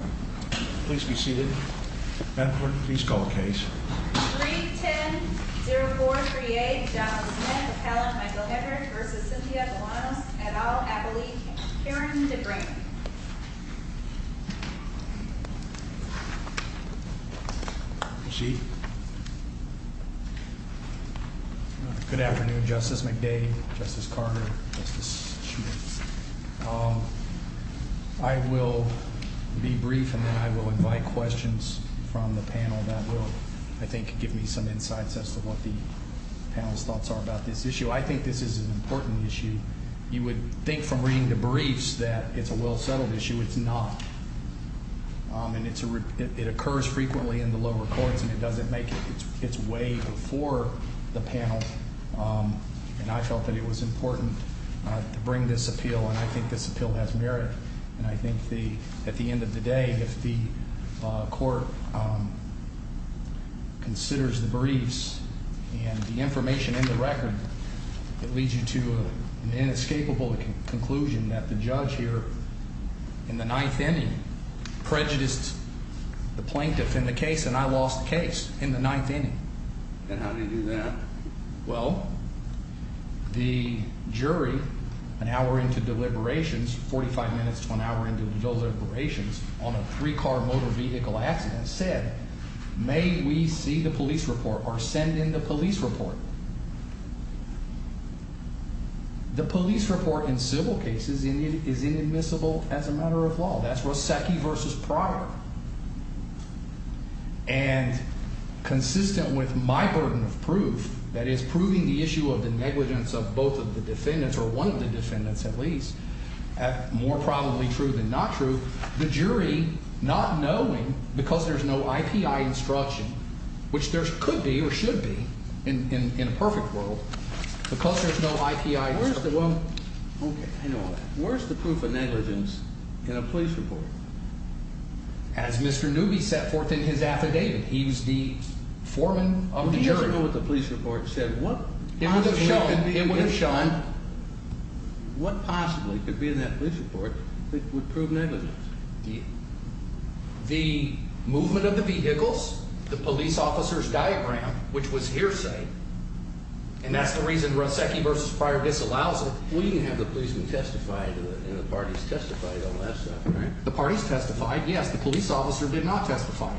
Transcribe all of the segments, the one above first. Please be seated. Madam Clerk, please call the case. 3-10-0438, Jonathan Smith, appellant Michael Hebert v. Cynthia Galanos, et al. appellee, Karen Debrain. Proceed. Good afternoon, Justice McDade, Justice Carter, Justice Schmitt. I will be brief and then I will invite questions from the panel that will, I think, give me some insights as to what the panel's thoughts are about this issue. I think this is an important issue. You would think from reading the briefs that it's a well-settled issue. It's not. And it occurs frequently in the lower courts and it doesn't make its way before the panel. And I felt that it was important to bring this appeal and I think this appeal has merit. And I think at the end of the day, if the court considers the briefs and the information in the record, it leads you to an inescapable conclusion that the judge here in the ninth inning prejudiced the plaintiff in the case and I lost the case in the ninth inning. And how did he do that? Well, the jury, an hour into deliberations, 45 minutes to an hour into deliberations on a three-car motor vehicle accident, said, May we see the police report or send in the police report? The police report in civil cases is inadmissible as a matter of law. That's Rossecki v. Pryor. And consistent with my burden of proof, that is proving the issue of the negligence of both of the defendants or one of the defendants at least, more probably true than not true, the jury, not knowing because there's no I.P.I. instruction, which there could be or should be in a perfect world, because there's no I.P.I. instruction. Where's the proof of negligence in a police report? As Mr. Newby set forth in his affidavit, he was the foreman of the jury. Would the jury know what the police report said? It would have shown. What possibly could be in that police report that would prove negligence? The movement of the vehicles, the police officer's diagram, which was hearsay, and that's the reason Rossecki v. Pryor disallows it. Well, you can have the policeman testify to it and the parties testify to all that stuff, right? The parties testified, yes. The police officer did not testify.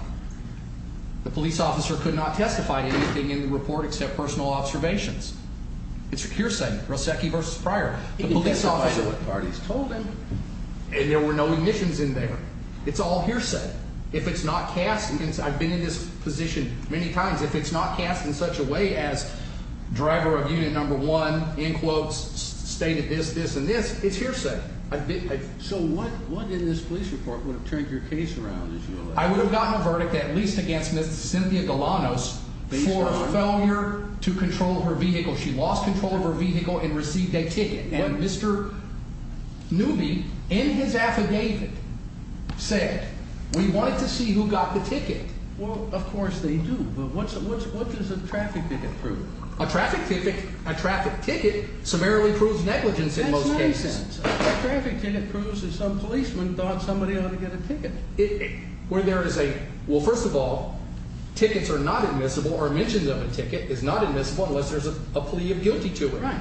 The police officer could not testify to anything in the report except personal observations. It's hearsay, Rossecki v. Pryor. He can testify to what parties told him. And there were no omissions in there. It's all hearsay. I've been in this position many times. If it's not cast in such a way as driver of unit number one, in quotes, stated this, this, and this, it's hearsay. So what in this police report would have turned your case around? I would have gotten a verdict, at least against Ms. Cynthia Galanos, for a failure to control her vehicle. She lost control of her vehicle and received a ticket. And Mr. Newby, in his affidavit, said, we wanted to see who got the ticket. Well, of course they do. But what does a traffic ticket prove? A traffic ticket summarily proves negligence in most cases. A traffic ticket proves that some policeman thought somebody ought to get a ticket. Well, first of all, tickets are not admissible, or omissions of a ticket is not admissible unless there's a plea of guilty to it.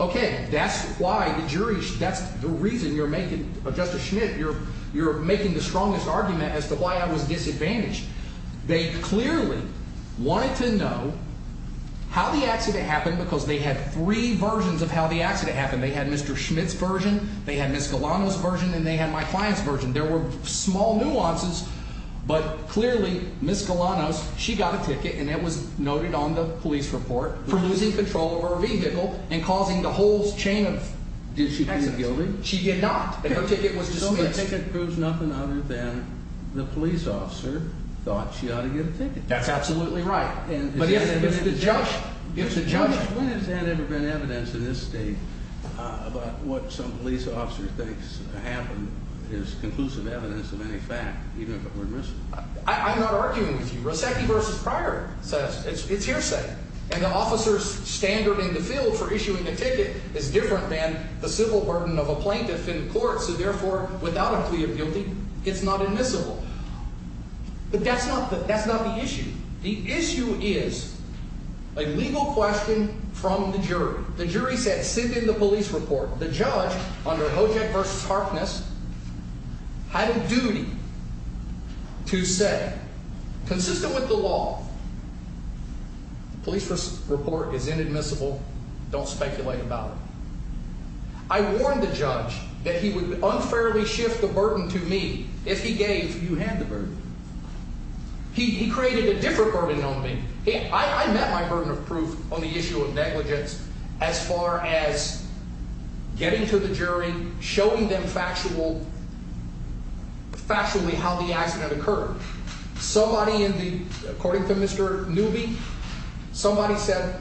Okay, that's why the jury, that's the reason you're making, Justice Schmidt, you're making the strongest argument as to why I was disadvantaged. They clearly wanted to know how the accident happened because they had three versions of how the accident happened. They had Mr. Schmidt's version, they had Ms. Galanos' version, and they had my client's version. There were small nuances, but clearly Ms. Galanos, she got a ticket, and it was noted on the police report, for losing control of her vehicle and causing the whole chain of accidents. Did she plead guilty? She did not. Her ticket was dismissed. So the ticket proves nothing other than the police officer thought she ought to get a ticket. That's absolutely right. But if the judge – When has there ever been evidence in this state about what some police officer thinks happened is conclusive evidence of any fact, even if it were missing? I'm not arguing with you. Rasecki v. Pryor says it's hearsay. And the officer's standard in the field for issuing a ticket is different than the civil burden of a plaintiff in court, so therefore, without a plea of guilty, it's not admissible. But that's not the issue. The issue is a legal question from the jury. The jury said, sent in the police report, the judge, under Hojack v. Harkness, had a duty to say, consistent with the law, the police report is inadmissible, don't speculate about it. I warned the judge that he would unfairly shift the burden to me. If he gave, you had the burden. He created a different burden on me. I met my burden of proof on the issue of negligence as far as getting to the jury, showing them factually how the accident occurred. Somebody in the, according to Mr. Newby, somebody said,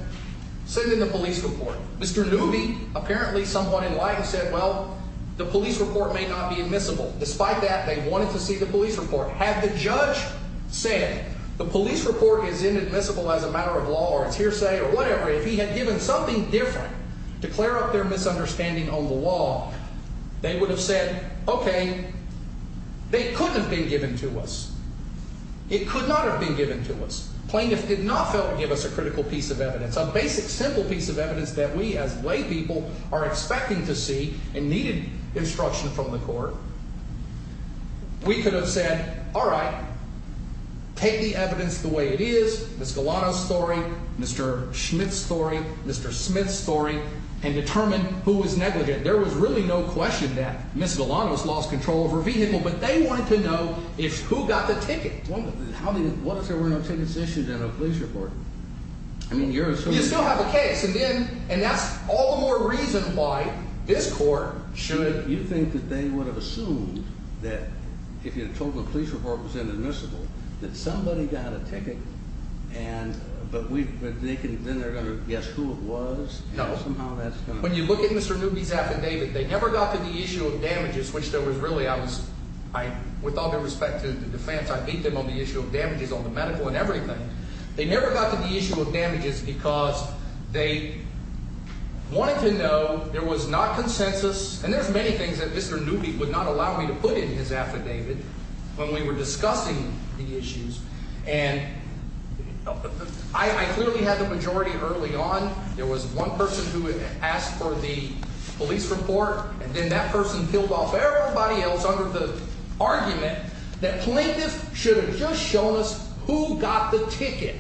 send in the police report. Mr. Newby, apparently someone enlightened, said, well, the police report may not be admissible. Despite that, they wanted to see the police report. Had the judge said the police report is inadmissible as a matter of law or it's hearsay or whatever, if he had given something different to clear up their misunderstanding on the law, they would have said, okay, they couldn't have been given to us. It could not have been given to us. Plaintiff did not give us a critical piece of evidence, a basic, simple piece of evidence that we as lay people are expecting to see and needed instruction from the court. We could have said, all right, take the evidence the way it is, Ms. Galano's story, Mr. Schmidt's story, Mr. Smith's story, and determine who was negligent. There was really no question that Ms. Galano's lost control of her vehicle, but they wanted to know who got the ticket. What if there were no tickets issued in a police report? You still have a case, and that's all the more reason why this court should. You think that they would have assumed that if you had told them the police report was inadmissible that somebody got a ticket, but then they're going to guess who it was? No. When you look at Mr. Newby's affidavit, they never got to the issue of damages, which there was really, I was, with all due respect to the defense, I beat them on the issue of damages on the medical and everything. They never got to the issue of damages because they wanted to know there was not consensus, and there's many things that Mr. Newby would not allow me to put in his affidavit when we were discussing the issues, and I clearly had the majority early on. There was one person who had asked for the police report, and then that person killed off everybody else under the argument that plaintiffs should have just shown us who got the ticket,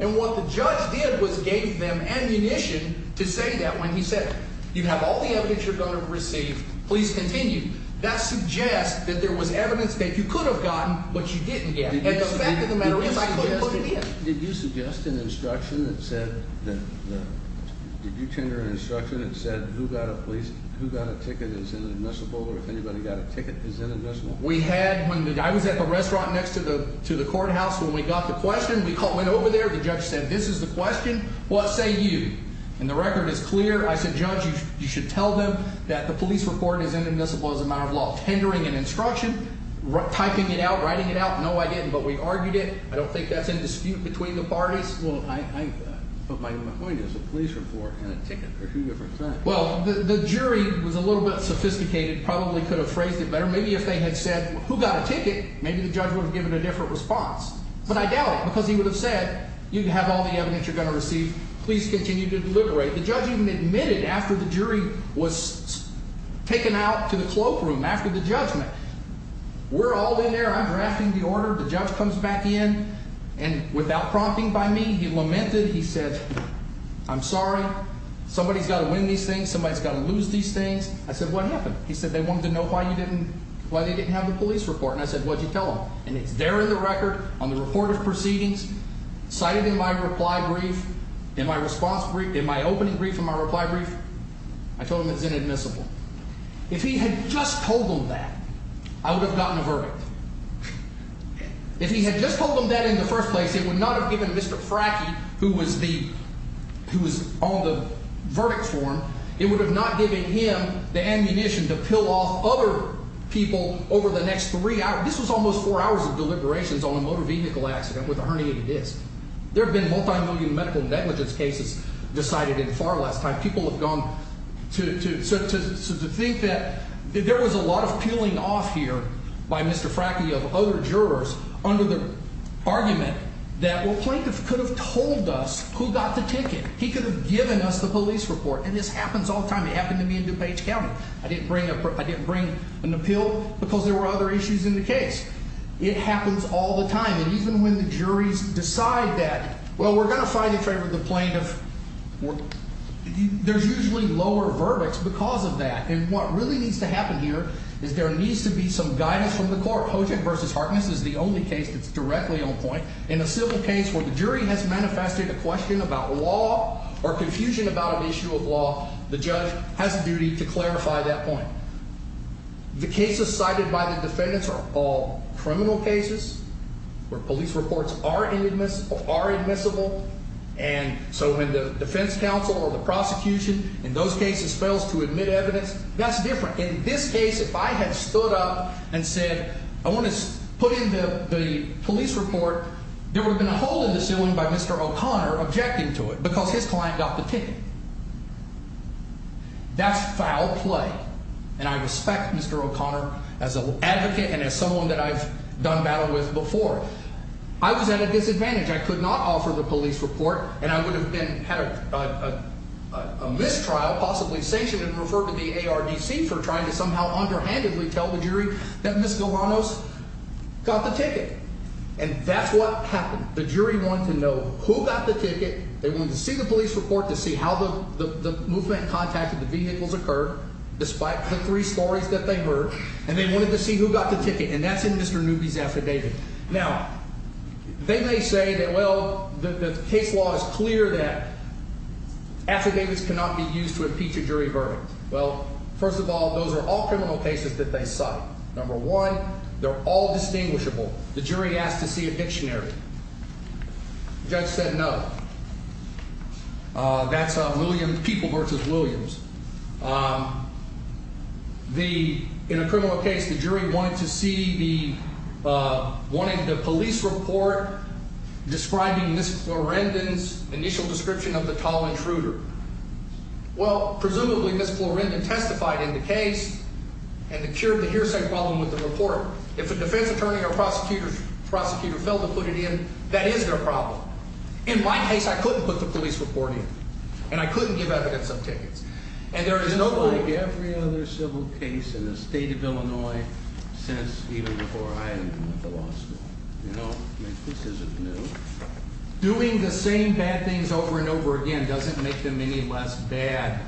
and what the judge did was gave them ammunition to say that when he said, You have all the evidence you're going to receive. Please continue. That suggests that there was evidence that you could have gotten, but you didn't get. And the fact of the matter is I couldn't put it in. Did you suggest an instruction that said, did you tender an instruction that said who got a ticket is inadmissible, or if anybody got a ticket is inadmissible? We had, I was at the restaurant next to the courthouse when we got the question. We went over there. The judge said, This is the question. What say you? And the record is clear. I said, Judge, you should tell them that the police report is inadmissible as a matter of law. Tendering an instruction, typing it out, writing it out. No, I didn't. But we argued it. I don't think that's in dispute between the parties. Well, I put my own point as a police report and a ticket are two different things. Well, the jury was a little bit sophisticated, probably could have phrased it better. Maybe if they had said who got a ticket, maybe the judge would have given a different response. But I doubt it because he would have said, You have all the evidence you're going to receive. Please continue to deliberate. The judge even admitted after the jury was taken out to the cloakroom after the judgment. We're all in there. I'm drafting the order. The judge comes back in. And without prompting by me, he lamented. He said, I'm sorry. Somebody's got to win these things. Somebody's got to lose these things. I said, What happened? He said they wanted to know why you didn't, why they didn't have the police report. And I said, What did you tell them? And it's there in the record on the report of proceedings. Cited in my reply brief, in my response brief, in my opening brief, in my reply brief. I told him it's inadmissible. If he had just told them that, I would have gotten a verdict. If he had just told them that in the first place, it would not have given Mr. Frackie, who was the, who was on the verdict form. It would have not given him the ammunition to peel off other people over the next three hours. Now, this was almost four hours of deliberations on a motor vehicle accident with a herniated disc. There have been multi-million medical negligence cases decided in far less time. People have gone to think that there was a lot of peeling off here by Mr. Frackie of other jurors under the argument that, well, plaintiff could have told us who got the ticket. He could have given us the police report. And this happens all the time. It happened to me in DuPage County. I didn't bring an appeal because there were other issues in the case. It happens all the time. And even when the juries decide that, well, we're going to fight in favor of the plaintiff, there's usually lower verdicts because of that. And what really needs to happen here is there needs to be some guidance from the court. Hojek v. Harkness is the only case that's directly on point. In a civil case where the jury has manifested a question about law or confusion about an issue of law, the judge has a duty to clarify that point. The cases cited by the defendants are all criminal cases where police reports are admissible. And so when the defense counsel or the prosecution in those cases fails to admit evidence, that's different. In this case, if I had stood up and said I want to put in the police report, there would have been a hole in the ceiling by Mr. O'Connor objecting to it because his client got the ticket. That's foul play. And I respect Mr. O'Connor as an advocate and as someone that I've done battle with before. I was at a disadvantage. I could not offer the police report and I would have had a mistrial, possibly sanctioned and referred to the ARDC for trying to somehow underhandedly tell the jury that Ms. Galvanos got the ticket. And that's what happened. The jury wanted to know who got the ticket. They wanted to see the police report to see how the movement contacted the vehicles occurred despite the three stories that they heard. And they wanted to see who got the ticket. And that's in Mr. Newby's affidavit. Now, they may say that, well, the case law is clear that affidavits cannot be used to impeach a jury verdict. Well, first of all, those are all criminal cases that they cite. Number one, they're all distinguishable. The jury asked to see a dictionary. The judge said no. That's people versus Williams. In a criminal case, the jury wanted to see the police report describing Ms. Florendon's initial description of the tall intruder. Well, presumably Ms. Florendon testified in the case and the cure of the hearsay problem with the report. If a defense attorney or prosecutor failed to put it in, that is their problem. In my case, I couldn't put the police report in. And I couldn't give evidence of tickets. And there is no way. Just like every other civil case in the state of Illinois since even before I entered the law school. You know? I mean, this isn't new. Doing the same bad things over and over again doesn't make them any less bad.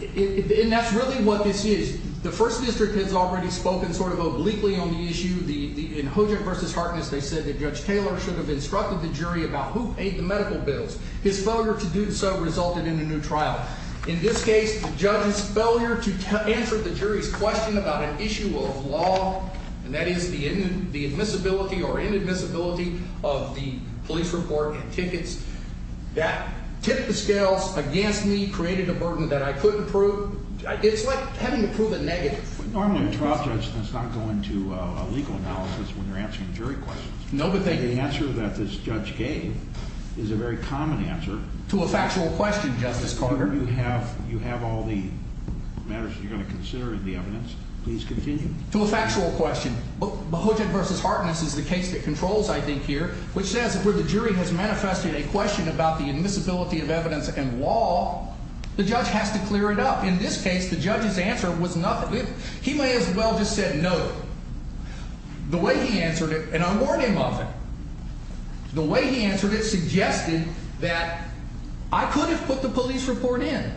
And that's really what this is. The first district has already spoken sort of obliquely on the issue. In Hodrick v. Harkness, they said that Judge Taylor should have instructed the jury about who paid the medical bills. His failure to do so resulted in a new trial. In this case, the judge's failure to answer the jury's question about an issue of law, and that is the admissibility or inadmissibility of the police report and tickets, that tipped the scales against me, created a burden that I couldn't prove. It's like having to prove a negative. Normally a trial judge does not go into a legal analysis when they're answering jury questions. The answer that this judge gave is a very common answer. To a factual question, Justice Carter. You have all the matters that you're going to consider in the evidence. Please continue. To a factual question. Hodrick v. Harkness is the case that controls, I think, here, which says where the jury has manifested a question about the admissibility of evidence and law, the judge has to clear it up. In this case, the judge's answer was nothing. He may as well have just said no. The way he answered it, and I warned him of it, the way he answered it suggested that I could have put the police report in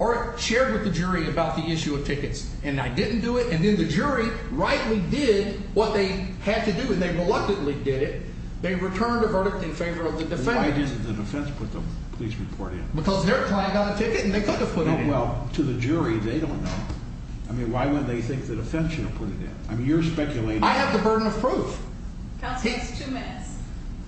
or shared with the jury about the issue of tickets, and I didn't do it, and then the jury rightly did what they had to do, and they reluctantly did it. They returned the verdict in favor of the defense. Why didn't the defense put the police report in? Because their client got a ticket and they could have put it in. Well, to the jury, they don't know. I mean, why would they think the defense should have put it in? I mean, you're speculating. I have the burden of proof. Counsel, you have two minutes.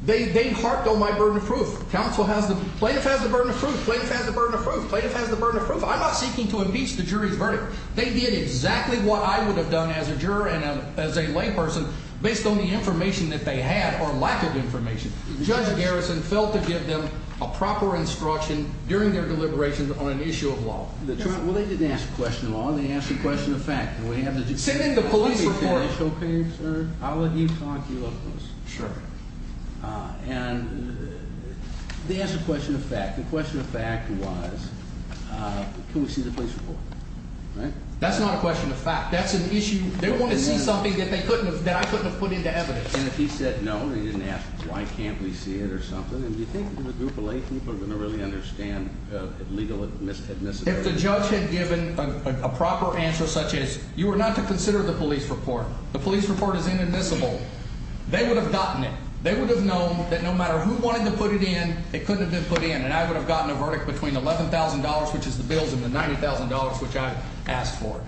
They harped on my burden of proof. Counsel has the burden of proof. Plaintiff has the burden of proof. Plaintiff has the burden of proof. I'm not seeking to impeach the jury's verdict. They did exactly what I would have done as a juror and as a layperson based on the information that they had or lack of information. Judge Garrison failed to give them a proper instruction during their deliberations on an issue of law. Well, they didn't ask a question of law. They asked a question of fact. Send in the police report. I'll let you talk. You look at this. Sure. And they asked a question of fact. The question of fact was can we see the police report? That's not a question of fact. That's an issue. They wanted to see something that I couldn't have put into evidence. And if he said no and he didn't ask why can't we see it or something, do you think the group of laypeople are going to really understand legal admissibility? If the judge had given a proper answer such as you were not to consider the police report, the police report is inadmissible, they would have gotten it. They would have known that no matter who wanted to put it in, it couldn't have been put in, and I would have gotten a verdict between $11,000, which is the bills, and the $90,000, which I asked for.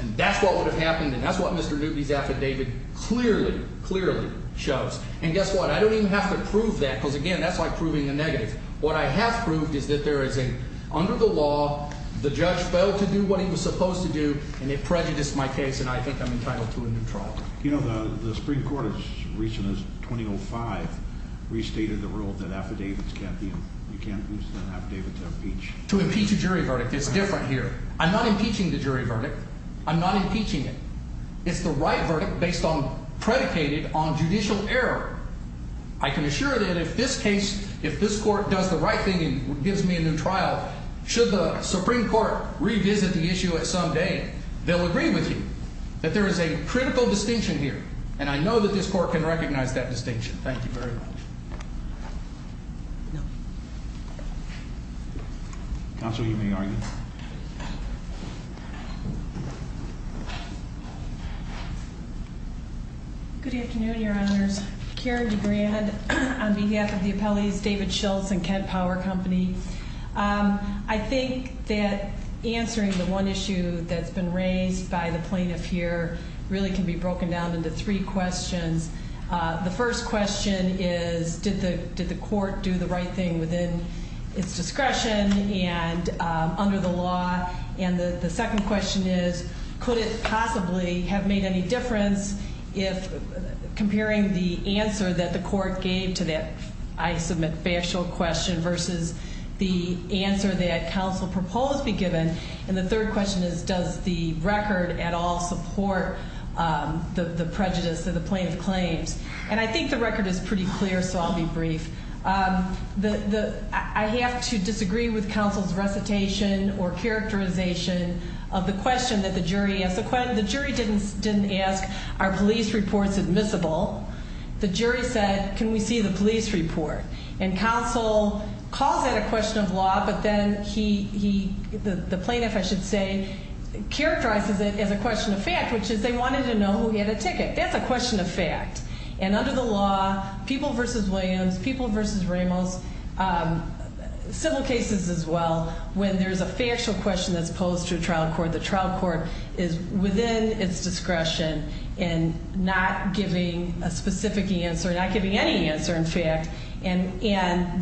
And that's what would have happened, and that's what Mr. Newby's affidavit clearly, clearly shows. And guess what? I don't even have to prove that because, again, that's like proving the negative. What I have proved is that there is a, under the law, the judge failed to do what he was supposed to do, and it prejudiced my case, and I think I'm entitled to a new trial. You know, the Supreme Court as recent as 2005 restated the rule that affidavits can't be, you can't use an affidavit to impeach. To impeach a jury verdict. It's different here. I'm not impeaching the jury verdict. I'm not impeaching it. It's the right verdict based on, predicated on judicial error. I can assure that if this case, if this court does the right thing and gives me a new trial, should the Supreme Court revisit the issue at some day, they'll agree with you. That there is a critical distinction here, and I know that this court can recognize that distinction. Thank you very much. Counsel, you may argue. Good afternoon, Your Honors. Karen DeGrand on behalf of the appellees, David Schultz and Kent Power Company. I think that answering the one issue that's been raised by the plaintiff here really can be broken down into three questions. The first question is, did the court do the right thing within its discretion and under the law? And the second question is, could it possibly have made any difference if, comparing the answer that the court gave to that I submit factual question versus the answer that counsel proposed be given. And the third question is, does the record at all support the prejudice of the plaintiff's claims? And I think the record is pretty clear, so I'll be brief. I have to disagree with counsel's recitation or characterization of the question that the jury asked. The jury didn't ask, are police reports admissible? The jury said, can we see the police report? And counsel calls that a question of law, but then he, the plaintiff I should say, characterizes it as a question of fact, which is they wanted to know who had a ticket. That's a question of fact. And under the law, people versus Williams, people versus Ramos, civil cases as well, when there's a factual question that's posed to a trial court, the trial court is within its discretion in not giving a specific answer, not giving any answer in fact, and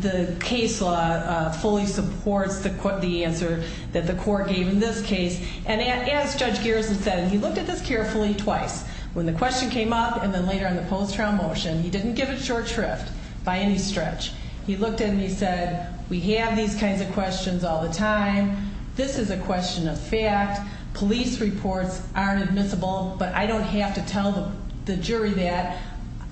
the case law fully supports the answer that the court gave in this case. And as Judge Garrison said, and he looked at this carefully twice, when the question came up and then later in the post-trial motion, he didn't give a short shrift by any stretch. He looked at it and he said, we have these kinds of questions all the time. This is a question of fact. Police reports aren't admissible, but I don't have to tell the jury that.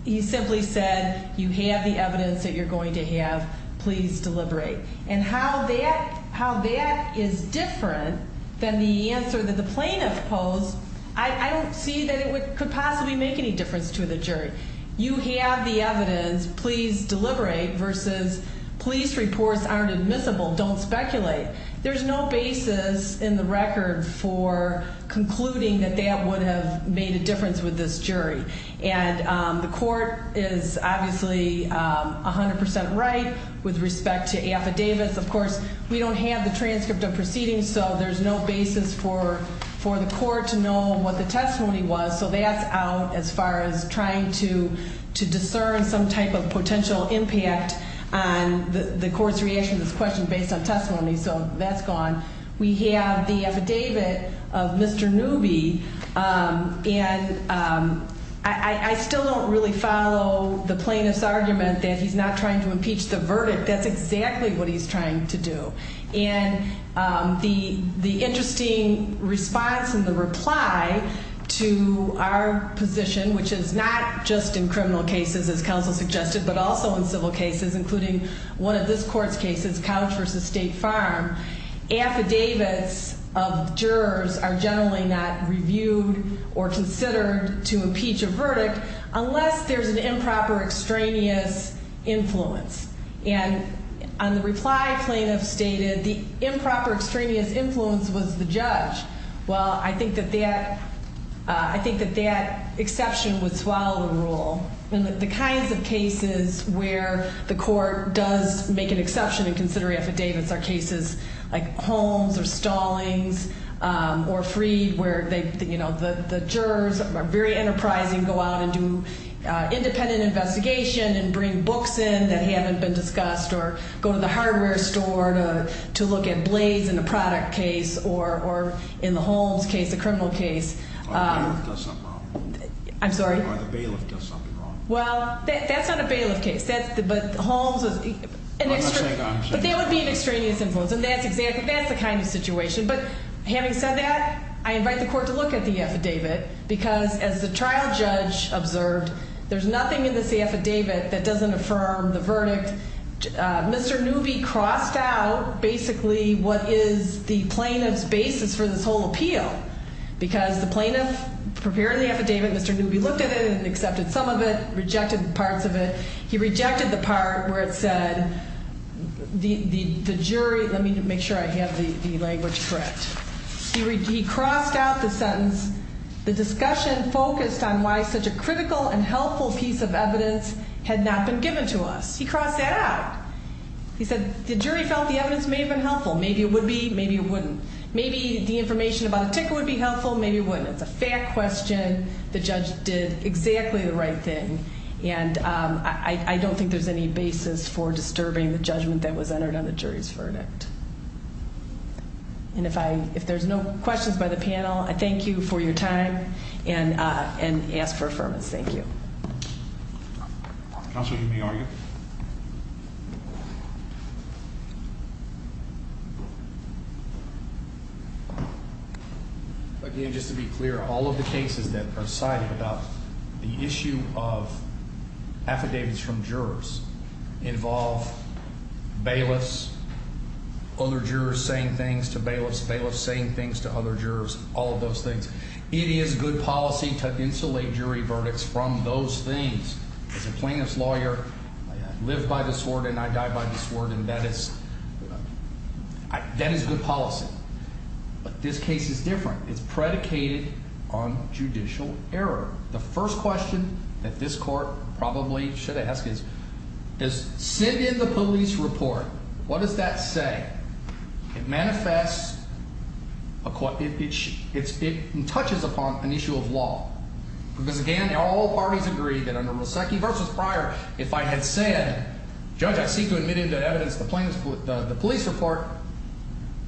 He simply said, you have the evidence that you're going to have. Please deliberate. And how that is different than the answer that the plaintiff posed, I don't see that it could possibly make any difference to the jury. You have the evidence, please deliberate, versus police reports aren't admissible, don't speculate. There's no basis in the record for concluding that that would have made a difference with this jury. And the court is obviously 100% right with respect to affidavits. Of course, we don't have the transcript of proceedings, so there's no basis for the court to know what the testimony was. So that's out as far as trying to discern some type of potential impact on the court's reaction to this question based on testimony. So that's gone. We have the affidavit of Mr. Newby, and I still don't really follow the plaintiff's argument that he's not trying to impeach the verdict. That's exactly what he's trying to do. And the interesting response and the reply to our position, which is not just in criminal cases, as counsel suggested, but also in civil cases, including one of this court's cases, Couch v. State Farm, affidavits of jurors are generally not reviewed or considered to impeach a verdict unless there's an improper extraneous influence. And on the reply, plaintiff stated the improper extraneous influence was the judge. Well, I think that that exception would swallow the rule. The kinds of cases where the court does make an exception in considering affidavits are cases like Holmes or Stallings or Freed, where the jurors are very enterprising, go out and do independent investigation and bring books in that haven't been discussed or go to the hardware store to look at blades in a product case or in the Holmes case, a criminal case. Or the bailiff does something wrong. I'm sorry? Or the bailiff does something wrong. Well, that's not a bailiff case. But Holmes is an extraneous influence. But that would be an extraneous influence. And that's the kind of situation. But having said that, I invite the court to look at the affidavit because, as the trial judge observed, there's nothing in this affidavit that doesn't affirm the verdict. Mr. Newby crossed out basically what is the plaintiff's basis for this whole appeal because the plaintiff prepared the affidavit, Mr. Newby looked at it and accepted some of it, rejected parts of it. He rejected the part where it said, the jury, let me make sure I have the language correct. He crossed out the sentence, the discussion focused on why such a critical and helpful piece of evidence had not been given to us. He crossed that out. He said the jury felt the evidence may have been helpful. Maybe it would be. Maybe it wouldn't. Maybe the information about the ticket would be helpful. Maybe it wouldn't. It's a fact question. The judge did exactly the right thing. And I don't think there's any basis for disturbing the judgment that was entered on the jury's verdict. And if there's no questions by the panel, I thank you for your time and ask for affirmance. Thank you. Counsel, you may argue. Again, just to be clear, all of the cases that are cited about the issue of affidavits from jurors involve bailiffs, other jurors saying things to bailiffs, bailiffs saying things to other jurors, all of those things. It is good policy to insulate jury verdicts from those things. As a plaintiff's lawyer, I live by this word and I die by this word, and that is good policy. But this case is different. It's predicated on judicial error. The first question that this court probably should ask is, does sitting in the police report, what does that say? It manifests, it touches upon an issue of law. Because, again, all parties agree that under Rasecki v. Pryor, if I had said, judge, I seek to admit into evidence the police report,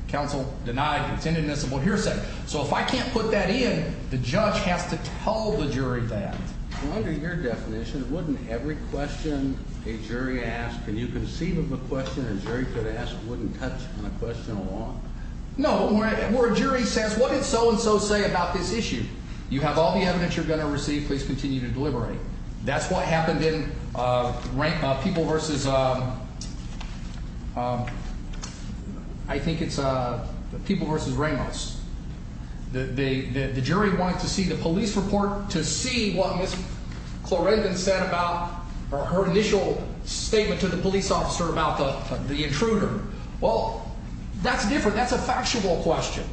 counsel denied contendedness of what you're saying. So if I can't put that in, the judge has to tell the jury that. Under your definition, wouldn't every question a jury asks, can you conceive of a question a jury could ask wouldn't touch on a question of law? No, where a jury says, what did so and so say about this issue? You have all the evidence you're going to receive. Please continue to deliberate. That's what happened in People v. I think it's People v. Ramos. The jury wanted to see the police report to see what Ms. Clorendon said about her initial statement to the police officer about the intruder. Well, that's different. That's a factual question.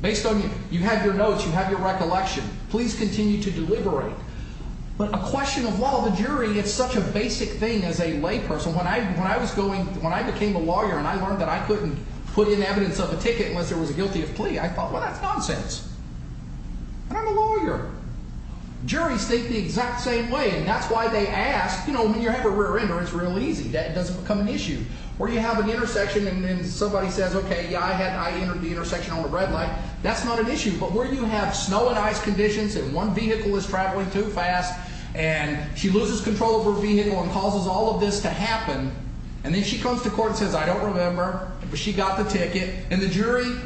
Based on you have your notes, you have your recollection. Please continue to deliberate. But a question of law, the jury, it's such a basic thing as a layperson. When I became a lawyer and I learned that I couldn't put in evidence of a ticket unless there was a guilty of plea, I thought, well, that's nonsense. And I'm a lawyer. Juries think the exact same way, and that's why they ask. When you have a rear-ender, it's real easy. That doesn't become an issue. Where you have an intersection and somebody says, OK, I entered the intersection on the red light, that's not an issue. But where you have snow and ice conditions and one vehicle is traveling too fast and she loses control of her vehicle and causes all of this to happen, and then she comes to court and says, I don't remember, but she got the ticket. And the jury,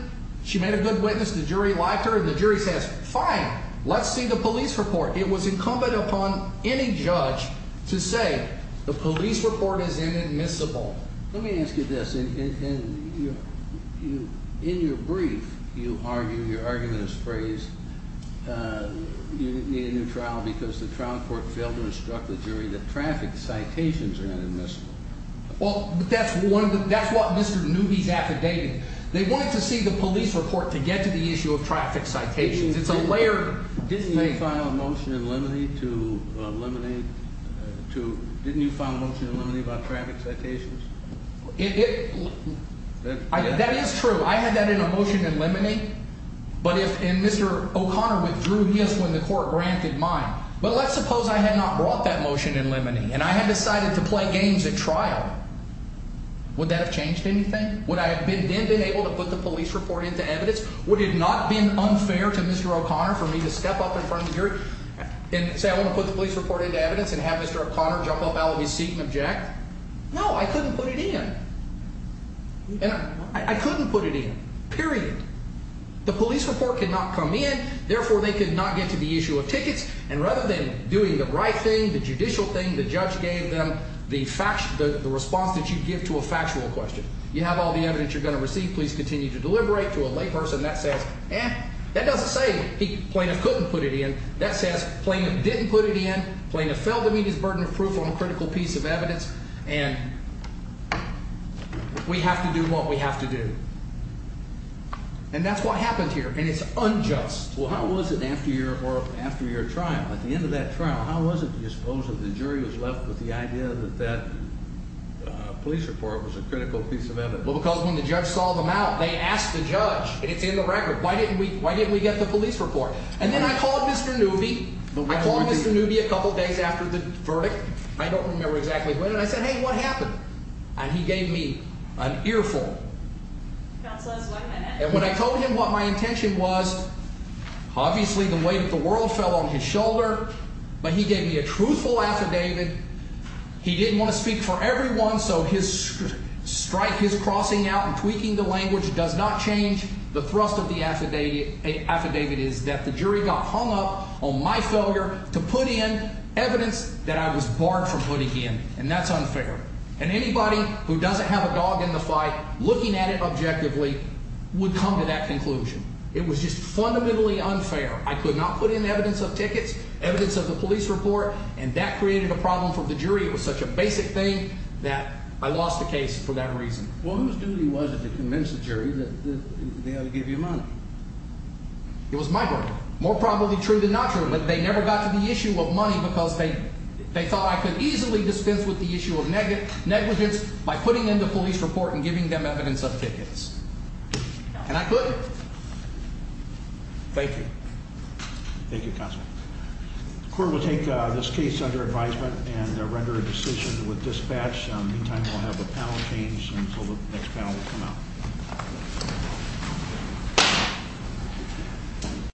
she made a good witness, the jury liked her, and the jury says, fine, let's see the police report. It was incumbent upon any judge to say the police report is inadmissible. Let me ask you this. In your brief, you argue, your argument is phrased, you need a new trial because the trial court failed to instruct the jury that traffic citations are inadmissible. Well, that's what Mr. Newby's affidavit. They wanted to see the police report to get to the issue of traffic citations. It's a layered thing. You may file a motion in limine to eliminate two. Didn't you file a motion in limine about traffic citations? That is true. I had that in a motion in limine. But if Mr. O'Connor withdrew his when the court granted mine. But let's suppose I had not brought that motion in limine and I had decided to play games at trial. Would that have changed anything? Would I have been able to put the police report into evidence? Would it not have been unfair to Mr. O'Connor for me to step up in front of the jury and say I want to put the police report into evidence and have Mr. O'Connor jump up out of his seat and object? No, I couldn't put it in. I couldn't put it in, period. The police report could not come in. Therefore, they could not get to the issue of tickets. And rather than doing the right thing, the judicial thing, the judge gave them the response that you give to a factual question. You have all the evidence you're going to receive. Please continue to deliberate. To a lay person that says, eh, that doesn't say plaintiff couldn't put it in. That says plaintiff didn't put it in. Plaintiff fell to meet his burden of proof on a critical piece of evidence. And we have to do what we have to do. And that's what happened here. And it's unjust. Well, how was it after your trial? At the end of that trial, how was it that you suppose that the jury was left with the idea that that police report was a critical piece of evidence? Well, because when the judge saw them out, they asked the judge, and it's in the record, why didn't we get the police report? And then I called Mr. Newby. I called Mr. Newby a couple days after the verdict. I don't remember exactly when. And I said, hey, what happened? And he gave me an earful. Counsel, that's one minute. And when I told him what my intention was, obviously the weight of the world fell on his shoulder. But he gave me a truthful affidavit. He didn't want to speak for everyone, so his strike, his crossing out and tweaking the language does not change the thrust of the affidavit is that the jury got hung up on my failure to put in evidence that I was barred from putting in, and that's unfair. And anybody who doesn't have a dog in the fight looking at it objectively would come to that conclusion. It was just fundamentally unfair. I could not put in evidence of tickets, evidence of the police report, and that created a problem for the jury. It was such a basic thing that I lost the case for that reason. Well, whose duty was it to convince the jury that they ought to give you money? It was my duty. More probably true than not true. But they never got to the issue of money because they thought I could easily dispense with the issue of negligence by putting in the police report and giving them evidence of tickets. And I couldn't. Thank you. Thank you, Counsel. The court will take this case under advisement and render a decision with dispatch. Meantime, we'll have the panel change and so the next panel will come out.